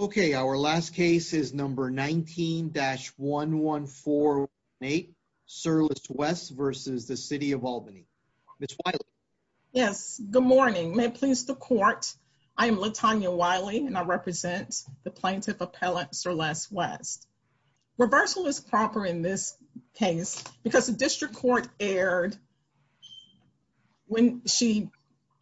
Okay, our last case is number 19-1148, Sirless West v. City of Albany. Ms. Wiley. Yes, good morning. May it please the court, I am Latonya Wiley and I represent the plaintiff appellant Sirless West. Reversal is proper in this case because the district court erred when she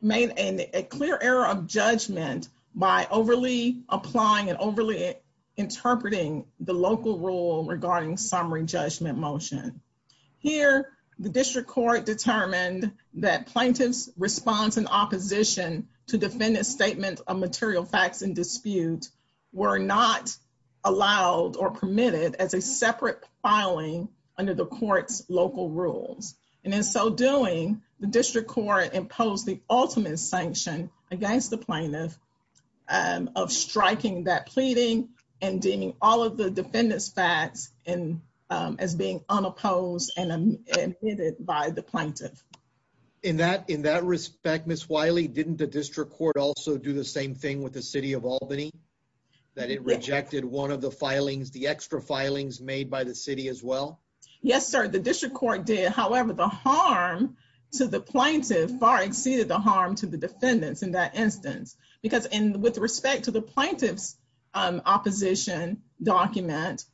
made a clear error of judgment by overly applying and overly interpreting the local rule regarding summary judgment motion. Here, the district court determined that plaintiff's response in opposition to defendant's statement of material facts in dispute were not allowed or permitted as a separate filing under the court's local rules. In so doing, the district court imposed the ultimate sanction against the plaintiff of striking that pleading and deeming all of the defendant's facts as being unopposed and omitted by the plaintiff. In that respect, Ms. Wiley, didn't the district court also do the same thing with the City of the extra filings made by the City as well? Yes, sir, the district court did. However, the harm to the plaintiff far exceeded the harm to the defendants in that instance. Because with respect to the plaintiff's opposition document,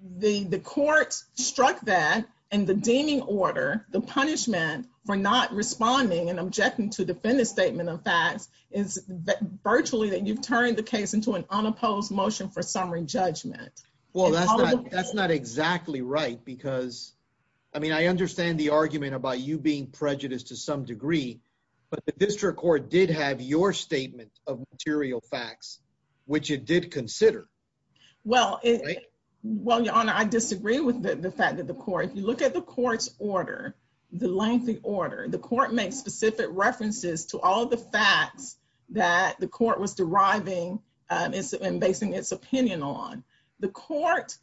the court struck that in the deeming order the punishment for not responding and objecting to defendant's statement of facts is virtually that you've turned the case into an unopposed motion for summary judgment. Well, that's not exactly right because, I mean, I understand the argument about you being prejudiced to some degree, but the district court did have your statement of material facts, which it did consider. Well, your honor, I disagree with the fact that the court, if you look at the court's order, the lengthy order, the court makes specific references to all the facts that the court was deriving and basing its opinion on. The court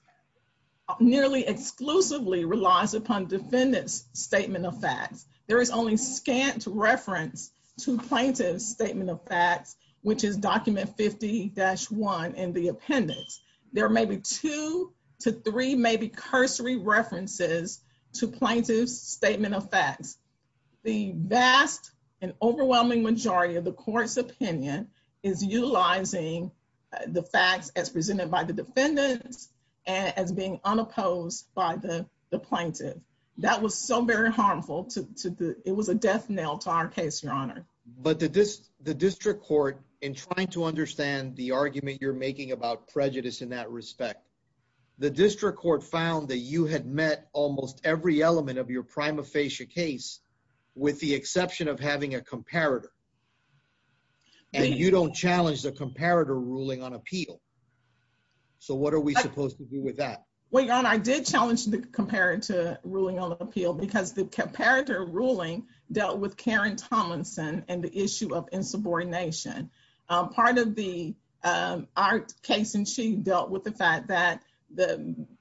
nearly exclusively relies upon defendant's statement of facts. There is only scant reference to plaintiff's statement of facts, which is document 50-1 in the appendix. There may be two to three maybe cursory references to plaintiff's statement of facts. The vast and overwhelming majority of the court's opinion is utilizing the facts as presented by the defendants and as being unopposed by the plaintiff. That was so very harmful. It was a death nail to our case, your honor. But the district court, in trying to understand the argument you're making about prejudice in that respect, the district court found that you had met almost every element of your prima facie case with the exception of having a comparator and you don't challenge the comparator ruling on appeal. So what are we supposed to do with that? Well, your honor, I did challenge the comparator ruling on appeal because the comparator ruling dealt with Karen Tomlinson and the issue of the fact that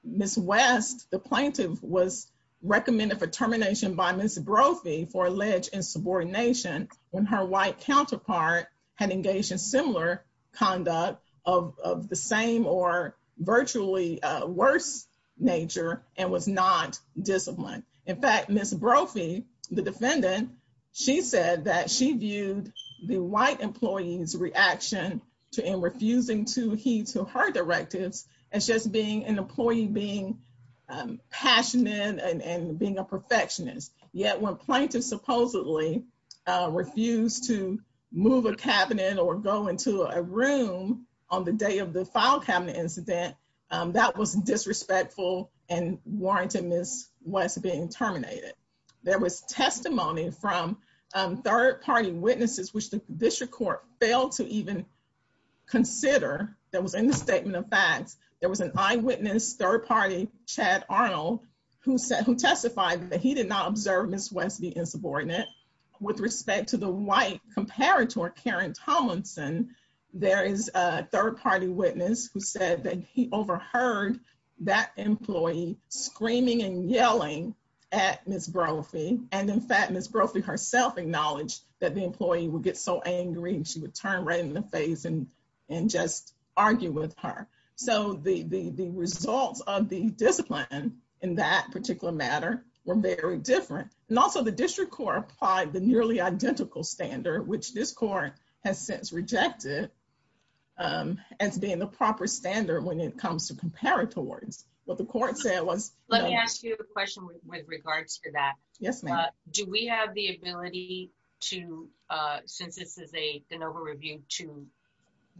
Ms. West, the plaintiff, was recommended for termination by Ms. Brophy for alleged insubordination when her white counterpart had engaged in similar conduct of the same or virtually worse nature and was not disciplined. In fact, Ms. Brophy, the defendant, she said that she viewed the white employee's reaction to him refusing to heed to her directives as just being an employee being passionate and being a perfectionist. Yet when plaintiffs supposedly refused to move a cabinet or go into a room on the day of the file cabinet incident, that was disrespectful and warranted Ms. West being terminated. There was testimony from third-party witnesses which the district court failed to even consider that was in the statement of facts. There was an eyewitness third-party, Chad Arnold, who testified that he did not observe Ms. West being insubordinate. With respect to the white comparator, Karen Tomlinson, there is a third-party witness who said that he overheard that employee screaming and yelling at Ms. Brophy. In fact, Ms. Brophy herself acknowledged that the employee would get so angry and she would turn right in the face and just argue with her. The results of the discipline in that particular matter were very different. Also, the district court applied the nearly identical standard which this court has since rejected as being the proper standard when it regards to that. Do we have the ability to, since this is a de novo review, to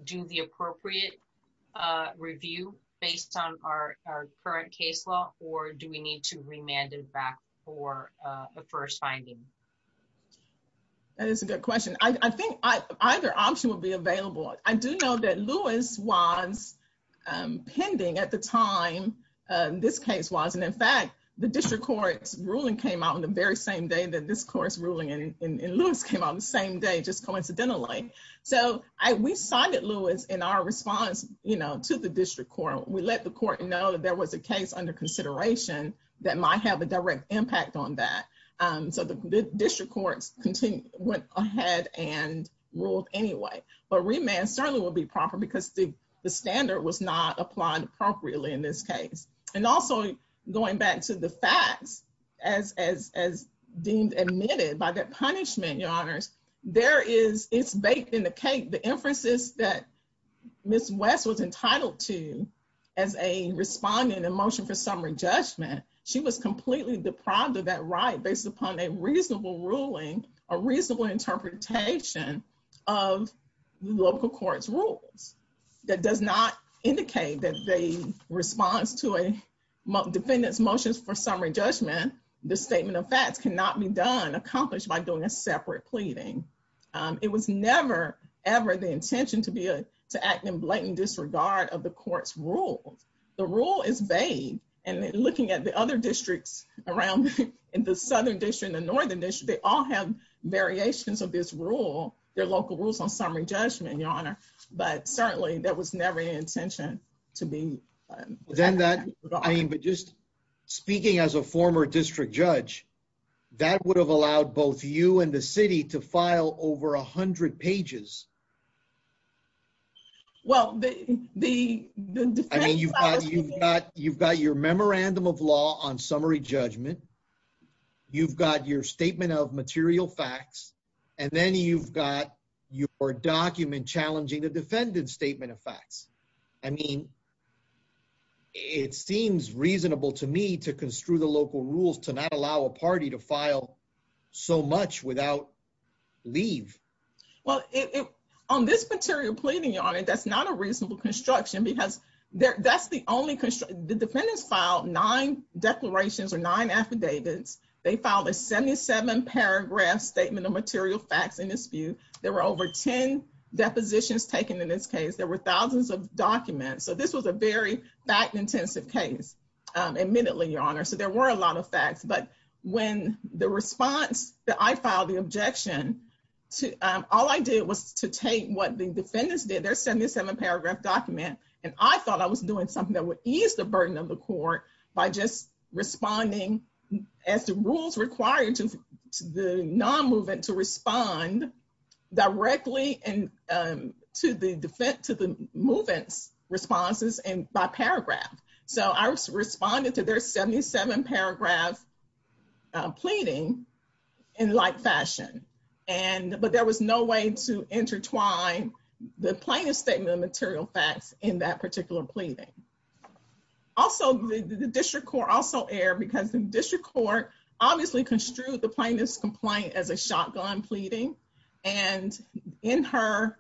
do the appropriate review based on our current case law or do we need to remand it back for a first finding? That is a good question. I think either option would be available. I do know that Lewis was pending at the time this case was. In fact, the district court's ruling came out on the very same day that this court's ruling and Lewis came out on the same day just coincidentally. We cited Lewis in our response to the district court. We let the court know that there was a case under consideration that might have a direct impact on that. The district courts went ahead and but remand certainly would be proper because the standard was not applied appropriately in this case. Also, going back to the facts as deemed admitted by that punishment, your honors, it's baked in the cake. The inferences that Ms. West was entitled to as a respondent in motion for summary judgment, she was completely deprived of that right based upon a reasonable ruling, a reasonable interpretation of local court's rules that does not indicate that the response to a defendant's motions for summary judgment, the statement of facts cannot be done, accomplished by doing a separate pleading. It was never, ever the intention to act in blatant disregard of the court's rules. The rule is vague and looking at the other districts around, in the Southern District and the Northern District, they all have variations of this rule, their local rules on summary judgment, your honor, but certainly that was never the intention to be. Then that, I mean, but just speaking as a former district judge, that would have allowed both you and the city to file over a hundred pages. Well, the, the, I mean, you've got, you've got your memorandum of law on summary judgment. You've got your statement of material facts, and then you've got your document challenging the defendant's statement of facts. I mean, it seems reasonable to me to construe the local rules to not allow a party to file so much without leave. Well, on this material pleading, your honor, that's not a reasonable construction because that's the only construction. The defendants filed nine declarations or nine affidavits. They filed a 77 paragraph statement of material facts in dispute. There were over 10 depositions taken in this case. There were thousands of documents. So this was a very fact-intensive case, admittedly, your honor. So there were a lot of facts, but when the response that I filed, the objection, all I did was to take what the defendants did, their 77 paragraph document, and I thought I was doing something that would ease the burden of the court by just responding as the rules required to the non-movement to respond directly and to the defense, to the movement's responses and by paragraph. So I responded to their 77 paragraph pleading in light fashion. And, but there was no way to intertwine the plaintiff's statement of material facts in that particular pleading. Also, the district court also erred because the district court obviously construed the plaintiff's complaint as a shotgun pleading. And in her,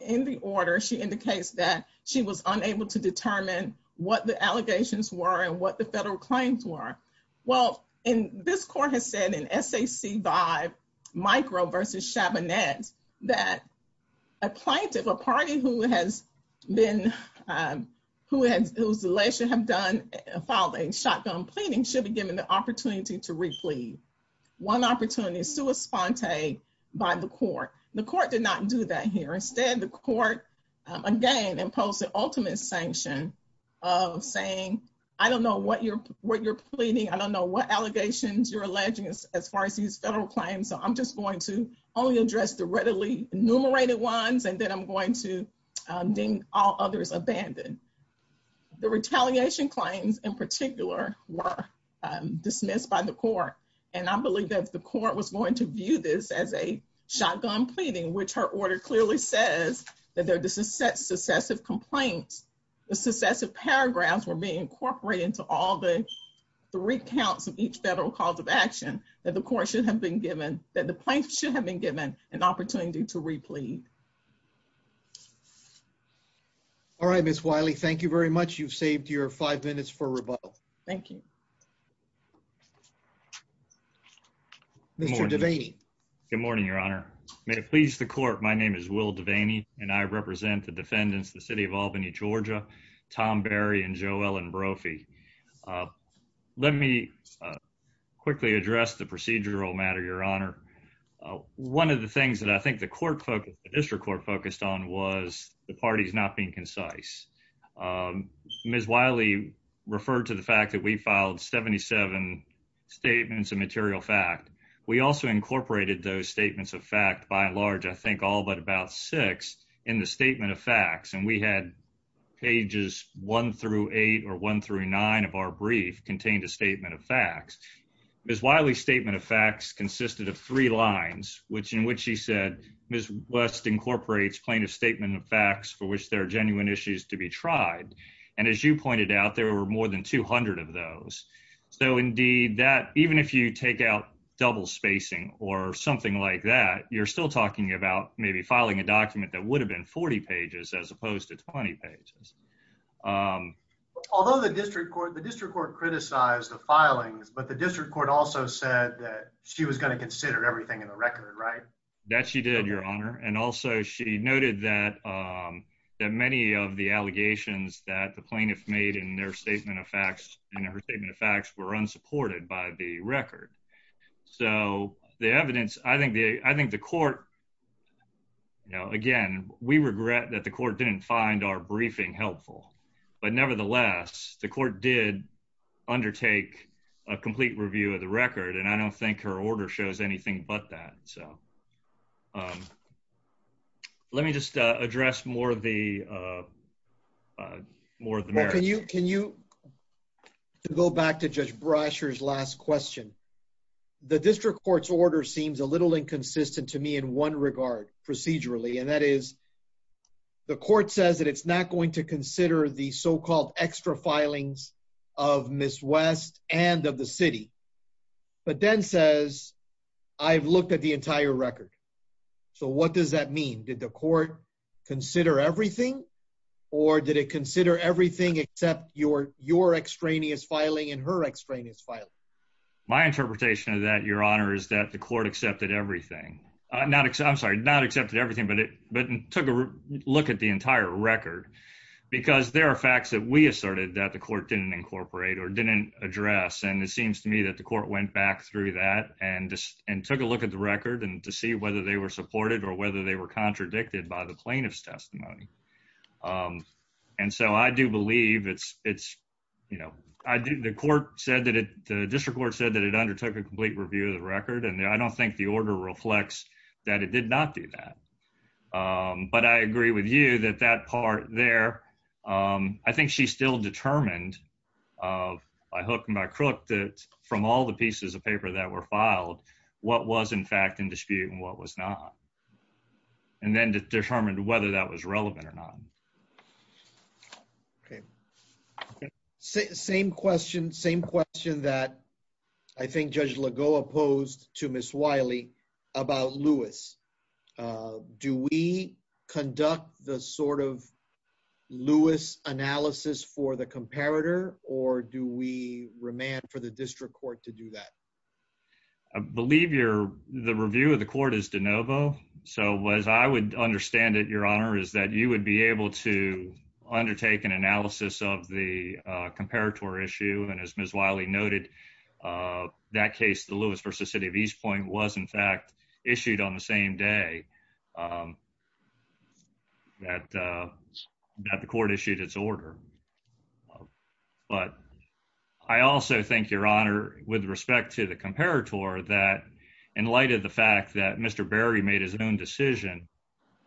in the order, she indicates that she was unable to determine what the allegations were and what the federal claims were. Well, and this court has said in SAC 5 micro versus Chabonet that a plaintiff, a party who has been, who has, who's alleged to have done, filed a shotgun pleading should be given the opportunity to replead. One opportunity, sua sponte by the court. The court did not do that here. Instead, the court, again, imposed the ultimate sanction of saying, I don't know what you're, what you're pleading. I don't know what allegations you're claiming. So I'm just going to only address the readily enumerated ones. And then I'm going to name all others abandoned. The retaliation claims in particular were dismissed by the court. And I believe that the court was going to view this as a shotgun pleading, which her order clearly says that there are the success, successive complaints, the successive paragraphs were being incorporated into all the three counts of each federal cause of action that the court should have been given that the plaintiff should have been given an opportunity to replead. All right, Ms. Wiley, thank you very much. You've saved your five minutes for rebuttal. Thank you. Mr. Devaney. Good morning, Your Honor. May it please the court. My name is Will Devaney and I represent the defendants, the city of Albany, Georgia, Tom Berry and Joellen Brophy. Uh, let me, uh, quickly address the procedural matter, Your Honor. One of the things that I think the court focused, the district court focused on was the parties not being concise. Um, Ms. Wiley referred to the fact that we filed 77 statements of material fact. We also incorporated those statements of fact by and large, I think all but about six in the statement of facts, and we had pages one through eight or one through nine of our brief contained a statement of facts. Ms. Wiley's statement of facts consisted of three lines, which in which she said, Ms. West incorporates plaintiff's statement of facts for which there are genuine issues to be tried. And as you pointed out, there were more than 200 of those. So indeed that even if you take out double spacing or something like that, you're still talking about maybe filing a document that would have been 40 pages as opposed to 20 pages. Although the district court, the district court criticized the filings, but the district court also said that she was going to consider everything in the record, right? That she did, Your Honor. And also she noted that, um, that many of the allegations that the plaintiff made in their statement of facts and her statement of facts were unsupported by the record. So the evidence, I think, I think the court, you know, again, we regret that the court didn't find our briefing helpful, but nevertheless, the court did undertake a complete review of the record, and I don't think her order shows anything but that. So, um, let me just address more of the, uh, uh, more of the merits. Well, can you, can you go back to Judge Brasher's last question? The district court's order seems a little inconsistent to me in one regard procedurally, and that is the court says that it's not going to consider the so-called extra filings of Ms. West and of the city, but then says I've looked at the entire record. So what does that mean? Did the court consider everything or did it consider everything except your, your extraneous filing and her extraneous filing? My interpretation of that, Your Honor, is that the court accepted everything, uh, not, I'm sorry, not accepted everything, but it, but took a look at the entire record because there are facts that we asserted that the court didn't incorporate or didn't address, and it seems to me that the court went back through that and just, and took a look at the record and to see whether they were supported or whether they were contradicted by the plaintiff's you know, I do, the court said that it, the district court said that it undertook a complete review of the record, and I don't think the order reflects that it did not do that, um, but I agree with you that that part there, um, I think she still determined of by hook and by crook that from all the pieces of paper that were filed what was in fact in dispute and what was not, and then determined whether that was relevant or not. Okay, same question, same question that I think Judge Lagoa posed to Ms. Wiley about Lewis, uh, do we conduct the sort of Lewis analysis for the comparator or do we remand for the district court to do that? I believe you're, the review of the court is de novo, so as I would understand it, your honor, is that you would be able to undertake an analysis of the, uh, comparator issue, and as Ms. Wiley noted, uh, that case, the Lewis versus City of East Point was in fact issued on the same day, um, that, uh, that the court issued its order, but I also think, your honor, with respect to the comparator that in light of the fact that Mr. Berry made his own decision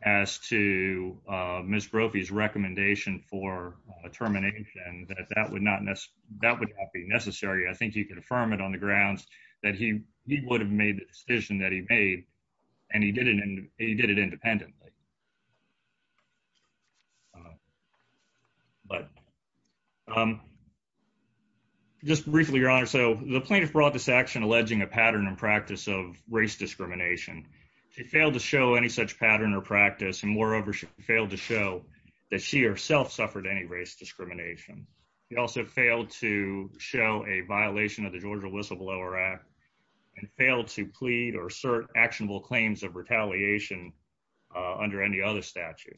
as to, uh, Ms. Brophy's recommendation for, uh, termination, that that would not, that would not be necessary. I think he could affirm it on the grounds that he, he would have made the decision that he made, and he did it, and he did it independently. But, um, just briefly, your honor, so the plaintiff brought this action alleging a pattern and practice of race discrimination. She failed to show any such pattern or practice, and moreover, she failed to show that she herself suffered any race discrimination. She also failed to show a violation of the Georgia Whistleblower Act, and failed to plead or assert actionable claims of retaliation, uh, under any other statute,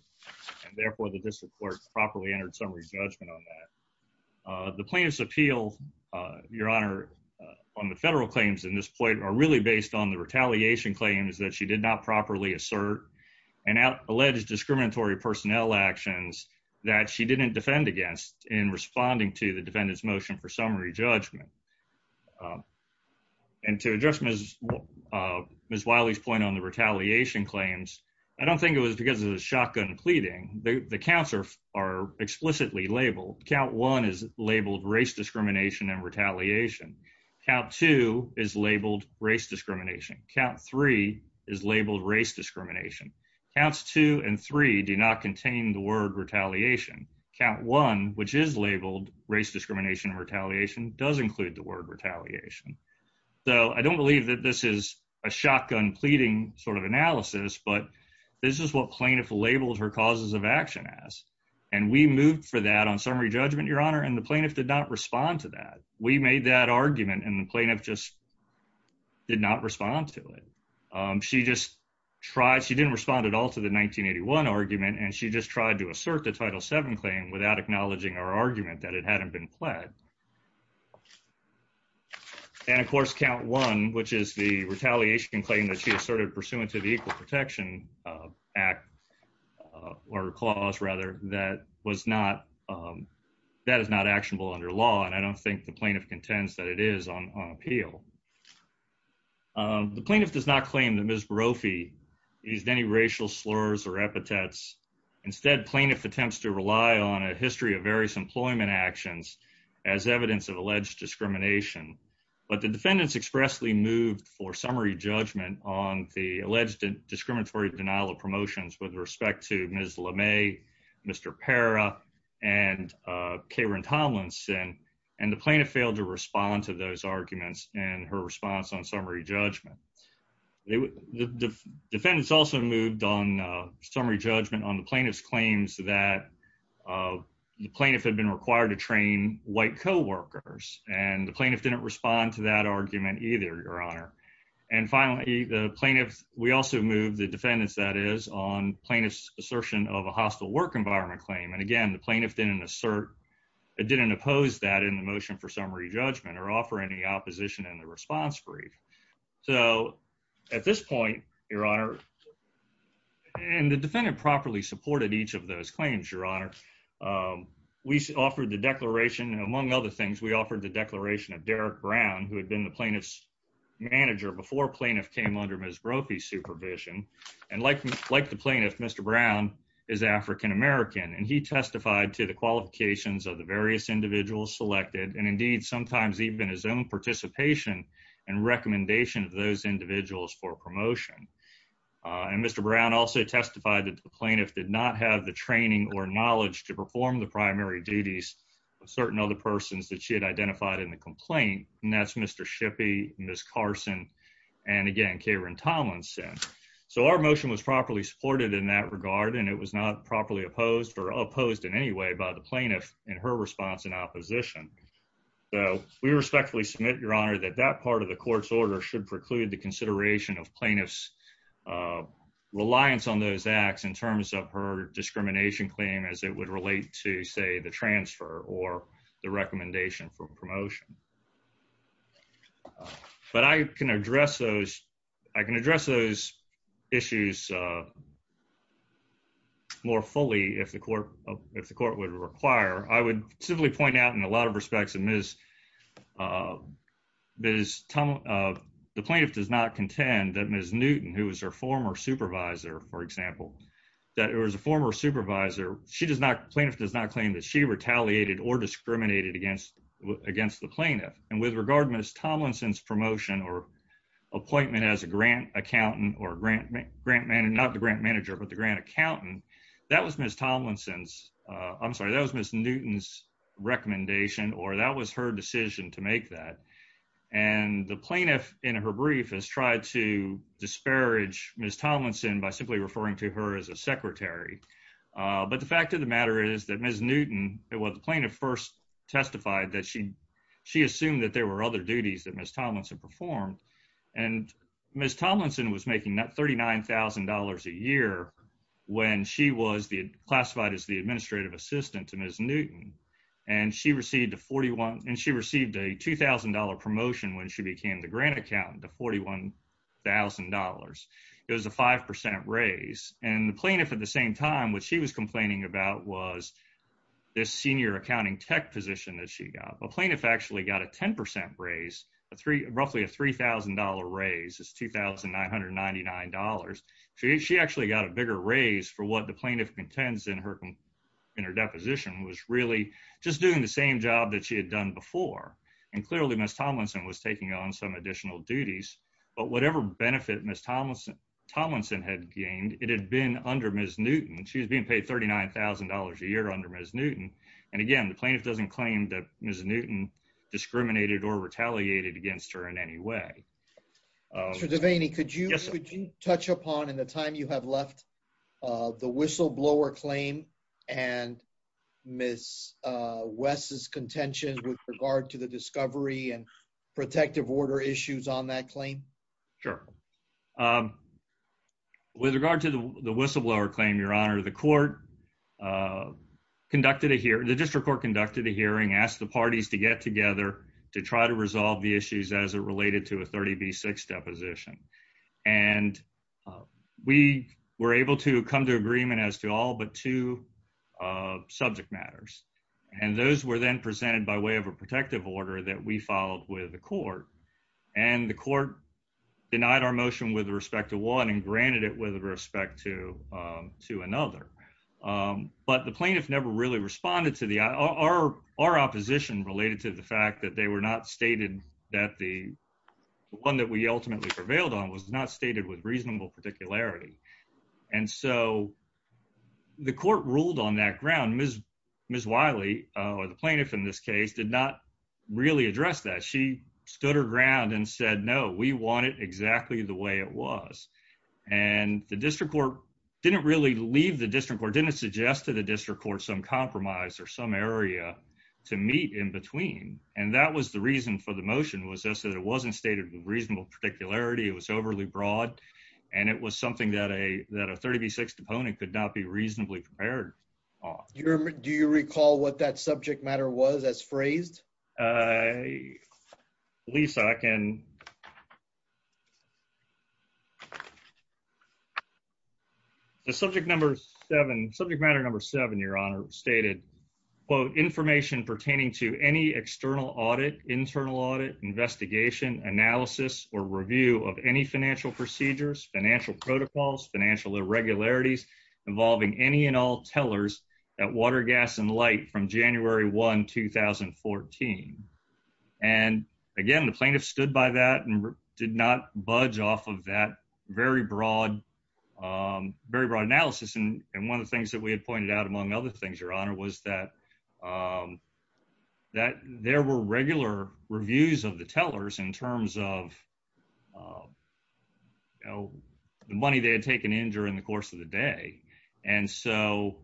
and therefore the district court properly entered summary judgment on that. Uh, the plaintiff's appeal, uh, your honor, uh, on the federal claims in this point are really based on the retaliation claims that she did not properly assert, and out, alleged discriminatory personnel actions that she didn't defend against in responding to the defendant's motion for summary judgment. Um, and to address Ms., uh, Ms. Wiley's point on the retaliation claims, I don't think it was because of the shotgun pleading. The, the counts are, are explicitly labeled. Count one is labeled race discrimination and retaliation. Count two is labeled race discrimination. Count three is labeled race discrimination. Counts two and three do not does include the word retaliation. So I don't believe that this is a shotgun pleading sort of analysis, but this is what plaintiff labeled her causes of action as, and we moved for that on summary judgment, your honor, and the plaintiff did not respond to that. We made that argument, and the plaintiff just did not respond to it. Um, she just tried, she didn't respond at all to the 1981 argument, and she just tried to assert the Title VII claim without acknowledging our argument that it hadn't been pled. And of course, count one, which is the retaliation claim that she asserted pursuant to the Equal Protection, uh, Act, uh, or clause rather that was not, um, that is not actionable under law, and I don't think the plaintiff contends that it is on, on appeal. Um, the plaintiff does not claim that Ms. Barofi used any racial slurs or epithets. Instead, plaintiff attempts to rely on a history of various employment actions as evidence of alleged discrimination, but the defendants expressly moved for summary judgment on the alleged discriminatory denial of promotions with respect to Ms. LeMay, Mr. Pera, and, uh, Karen Tomlinson, and the plaintiff failed to respond to those arguments in her response on summary judgment on the plaintiff's claims that, uh, the plaintiff had been required to train white co-workers, and the plaintiff didn't respond to that argument either, Your Honor. And finally, the plaintiff, we also moved the defendants, that is, on plaintiff's assertion of a hostile work environment claim, and again, the plaintiff didn't assert, didn't oppose that in the motion for summary judgment or offer any opposition in the response brief. So at this point, Your Honor, and the defendant properly supported each of those claims, Your Honor, we offered the declaration, among other things, we offered the declaration of Derek Brown, who had been the plaintiff's manager before plaintiff came under Ms. Barofi's supervision, and like, like the plaintiff, Mr. Brown is African American, and he testified to the qualifications of the various individuals selected, and indeed, sometimes even his own participation and recommendation of those individuals for promotion. And Mr. Brown also testified that the plaintiff did not have the training or knowledge to perform the primary duties of certain other persons that she had identified in the complaint, and that's Mr. Shippey, Ms. Carson, and again, Karen Tomlinson. So our motion was properly supported in that regard, and it was not properly opposed or opposed in any way by the plaintiff in her response in opposition. So we respectfully submit, Your Honor, that that part of the court's order should preclude the consideration of plaintiff's reliance on those acts in terms of her discrimination claim as it would relate to, say, the transfer or the recommendation for promotion. But I can address those, I can address those issues more fully if the court, if the court would require. I would simply point out in a lot of respects that Ms., Ms. Tomlinson, the plaintiff does not contend that Ms. Newton, who was her former supervisor, for example, that it was a former supervisor, she does not, plaintiff does not claim that she retaliated or discriminated against, against the plaintiff. And with regard to Ms. Tomlinson's promotion or appointment as a grant accountant or grant, grant manager, not the grant manager, but the grant accountant, that was Ms. Tomlinson's, I'm sorry, that was Ms. Newton's recommendation or that was her decision to make that. And the plaintiff in her brief has tried to disparage Ms. Tomlinson by simply referring to her as a secretary. But the fact of the matter is that Ms. Newton, well, the plaintiff first testified that she, she assumed that there were other duties that Ms. Tomlinson performed. And Ms. Tomlinson was making $39,000 a year when she was the, classified as the administrative assistant to Ms. Newton. And she received a 41, and she received a $2,000 promotion when she became the grant accountant, the $41,000. It was a 5% raise. And the plaintiff at the same time, what she was complaining about was this senior accounting tech position that she got. But plaintiff actually got a 10% raise, a three, roughly a $3,000 raise. It's $2,999. She, she actually got a bigger raise for what the plaintiff contends in her, in her deposition was really just doing the same job that she had done before. And clearly Ms. Tomlinson was taking on some additional duties, but whatever benefit Ms. Tomlinson had gained, it had been under Ms. Newton. She was being paid $39,000 a year under Ms. Newton. And again, the plaintiff doesn't claim that Ms. Newton discriminated or retaliated against her in any way. Mr. Devaney, could you touch upon in the time you have left the whistleblower claim and Ms. West's contention with regard to the discovery and protective order issues on that claim? Sure. With regard to the whistleblower claim, Your Honor, the court conducted a hearing, the district court conducted a hearing, asked the parties to get together to try to resolve the issues as it related to a 30B6 deposition. And we were able to come to agreement as to all but two subject matters. And those were then presented by way of a denied our motion with respect to one and granted it with respect to another. But the plaintiff never really responded to our opposition related to the fact that they were not stated that the one that we ultimately prevailed on was not stated with reasonable particularity. And so the court ruled on that ground. Ms. Wiley, or the plaintiff in this case, did not really address that. She stood her ground and said, no, we want it exactly the way it was. And the district court didn't really leave the district court, didn't suggest to the district court some compromise or some area to meet in between. And that was the reason for the motion was just that it wasn't stated with reasonable particularity. It was overly broad. And it was something that a 30B6 deponent could not be reasonably prepared on. Do you recall what that subject matter was as phrased? Lisa, I can. The subject number seven, subject matter number seven, your honor stated, quote, information pertaining to any external audit, internal audit, investigation, analysis or review of any financial procedures, financial protocols, financial irregularities involving any and all tellers at Water, Gas and Light from January 1, 2014. And again, the plaintiff stood by that and did not budge off of that very broad, very broad analysis. And one of the things that we had pointed out, among other things, your honor, was that, that there were regular reviews of the tellers in the district court. And so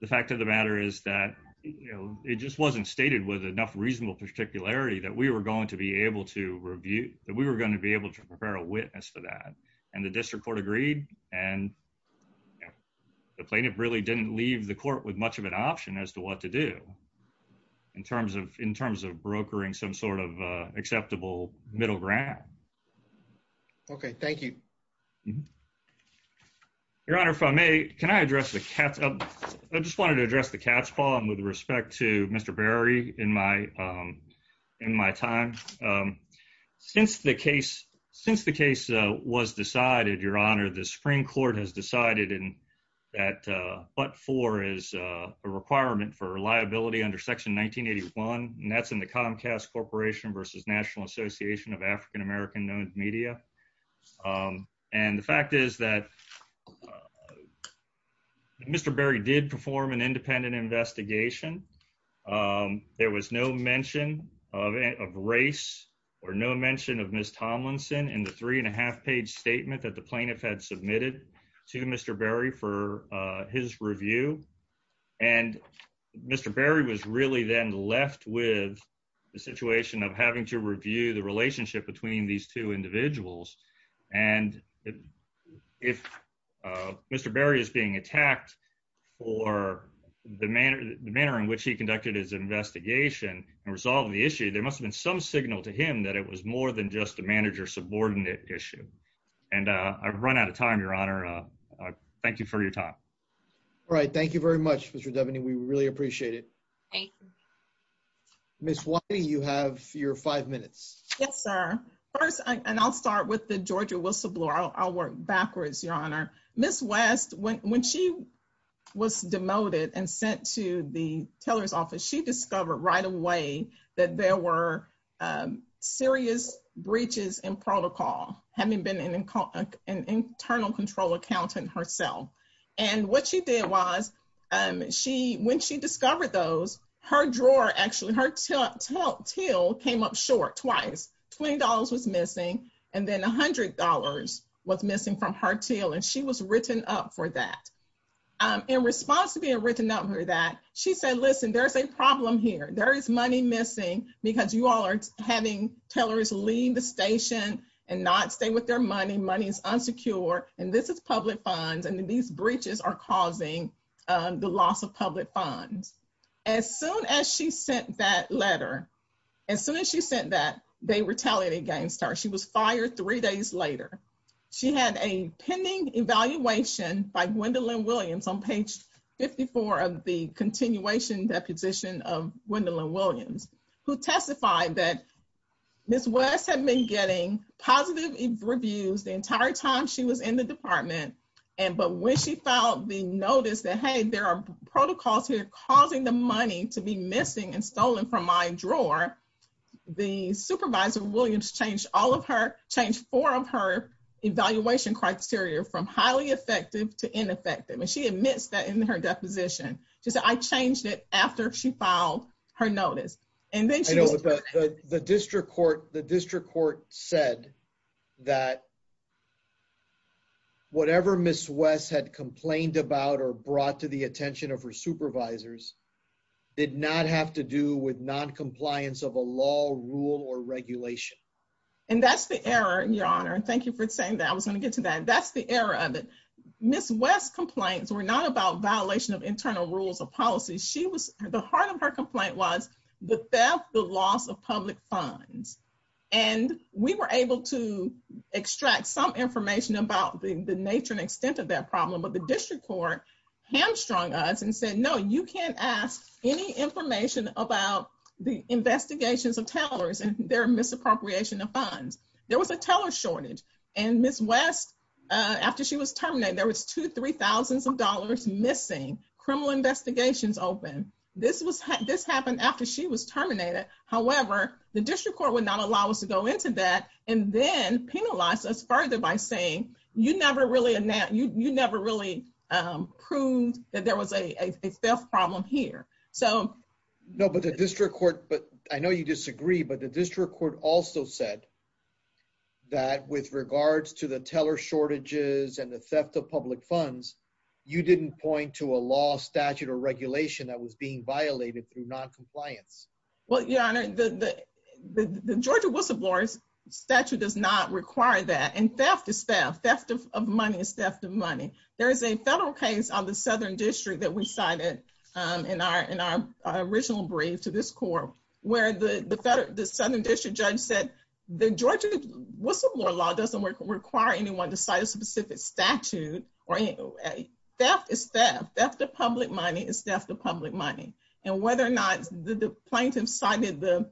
the fact of the matter is that, you know, it just wasn't stated with enough reasonable particularity that we were going to be able to review, that we were going to be able to prepare a witness for that. And the district court agreed. And the plaintiff really didn't leave the court with much of an option as to what to do in terms of in terms of brokering some sort of acceptable middle ground. Okay, thank you. Your honor, if I may, can I address the cats? I just wanted to address the cat's paw and with respect to Mr. Berry in my, in my time. Since the case, since the case was decided, your honor, the Supreme Court has decided in that, but for is a requirement for reliability under section 1981. And that's in the Comcast Corporation versus National Association of African American Known Media. And the fact is that Mr. Berry did perform an independent investigation. There was no mention of race or no mention of Ms. Tomlinson in the three and a half page statement that the plaintiff had submitted to Mr. Berry for his review. And Mr. Berry was really then left with the situation of having to review the relationship between these two individuals. And if Mr. Berry is being attacked for the manner, the manner in which he conducted his investigation and resolve the issue, there must have been some signal to him that it was more than just a manager subordinate issue. And I've run out of time, your honor. Thank you for your All right. Thank you very much, Mr. Devaney. We really appreciate it. Ms. Whitey, you have your five minutes. Yes, sir. First, and I'll start with the Georgia whistleblower. I'll work backwards, your honor. Ms. West, when, when she was demoted and sent to the teller's office, she discovered right away that there were serious breaches in protocol, having been an internal control accountant herself. And what she did was she, when she discovered those, her drawer, actually her till came up short twice. $20 was missing. And then $100 was missing from her till. And she was written up for that. In response to being written up for that, she said, listen, there's a problem here. There is money missing because you all are having tellers leave the station and not stay with their money. Money is unsecure, and this is public funds. And then these breaches are causing the loss of public funds. As soon as she sent that letter, as soon as she sent that, they retaliated against her. She was fired three days later. She had a pending evaluation by Gwendolyn Williams on page 54 of the continuation deposition of Gwendolyn Williams, who testified that Ms. West had been getting positive reviews the entire time she was in the department. And, but when she filed the notice that, hey, there are protocols here causing the money to be missing and stolen from my drawer, the supervisor Williams changed all of her, changed four of her evaluation criteria from highly effective to ineffective. And admits that in her deposition, she said, I changed it after she filed her notice. And then she was- I know, but the district court said that whatever Ms. West had complained about or brought to the attention of her supervisors did not have to do with noncompliance of a law, rule, or regulation. And that's the error, your honor. And thank you for saying that. I was going to get to that. That's the error of it. Ms. West's complaints were not about violation of internal rules of policy. She was- the heart of her complaint was the theft, the loss of public funds. And we were able to extract some information about the nature and extent of that problem, but the district court hamstrung us and said, no, you can't ask any information about the investigations of tellers and their misappropriation of funds. There was a teller shortage. And Ms. West, after she was terminated, there was two, three thousands of dollars missing, criminal investigations open. This happened after she was terminated. However, the district court would not allow us to go into that and then penalize us further by saying, you never really proved that there was a theft problem here. So- No, but the district court, but I know you disagree, but the district court also said that with regards to the teller shortages and the theft of public funds, you didn't point to a law statute or regulation that was being violated through noncompliance. Well, your honor, the Georgia whistleblowers statute does not require that. And theft is theft. Theft of money is theft of money. There is a federal case on the Southern District that we in our original brief to this court, where the Southern District judge said, the Georgia whistleblower law doesn't require anyone to cite a specific statute. Theft is theft. Theft of public money is theft of public money. And whether or not the plaintiff cited the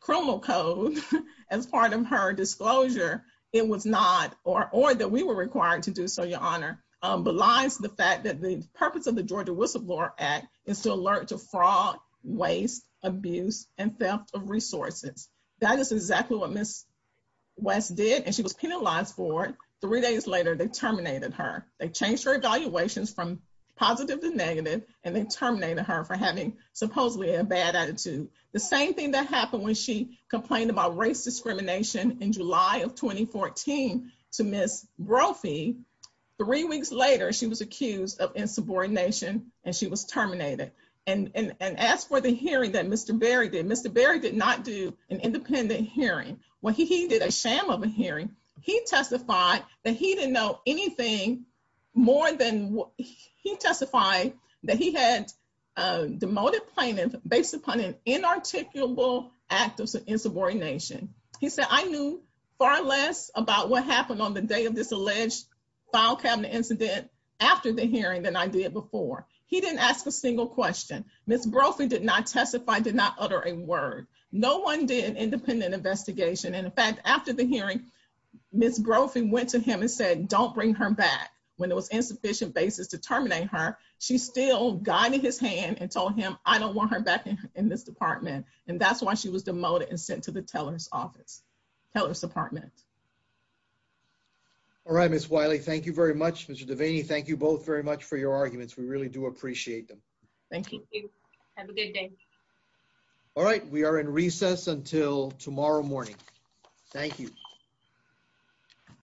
criminal code as part of her disclosure, it was not, or that we were required to do so, belies the fact that the purpose of the Georgia whistleblower act is to alert to fraud, waste, abuse, and theft of resources. That is exactly what Ms. West did. And she was penalized for it. Three days later, they terminated her. They changed her evaluations from positive to negative, and they terminated her for having supposedly a bad attitude. The same thing that three weeks later, she was accused of insubordination, and she was terminated. And asked for the hearing that Mr. Berry did. Mr. Berry did not do an independent hearing. When he did a sham of a hearing, he testified that he didn't know anything more than, he testified that he had demoted plaintiff based upon an inarticulable act of insubordination. He said, I knew far less about what happened on the day of this alleged file cabinet incident after the hearing than I did before. He didn't ask a single question. Ms. Brophy did not testify, did not utter a word. No one did an independent investigation. And in fact, after the hearing, Ms. Brophy went to him and said, don't bring her back. When it was insufficient basis to terminate her, she still guided his hand and told him, I don't want her back in this department. And that's why she was demoted and sent to the teller's office, teller's department. All right, Ms. Wiley, thank you very much. Mr. Devaney, thank you both very much for your arguments. We really do appreciate them. Thank you. Have a good day. All right. We are in recess until tomorrow morning. Thank you.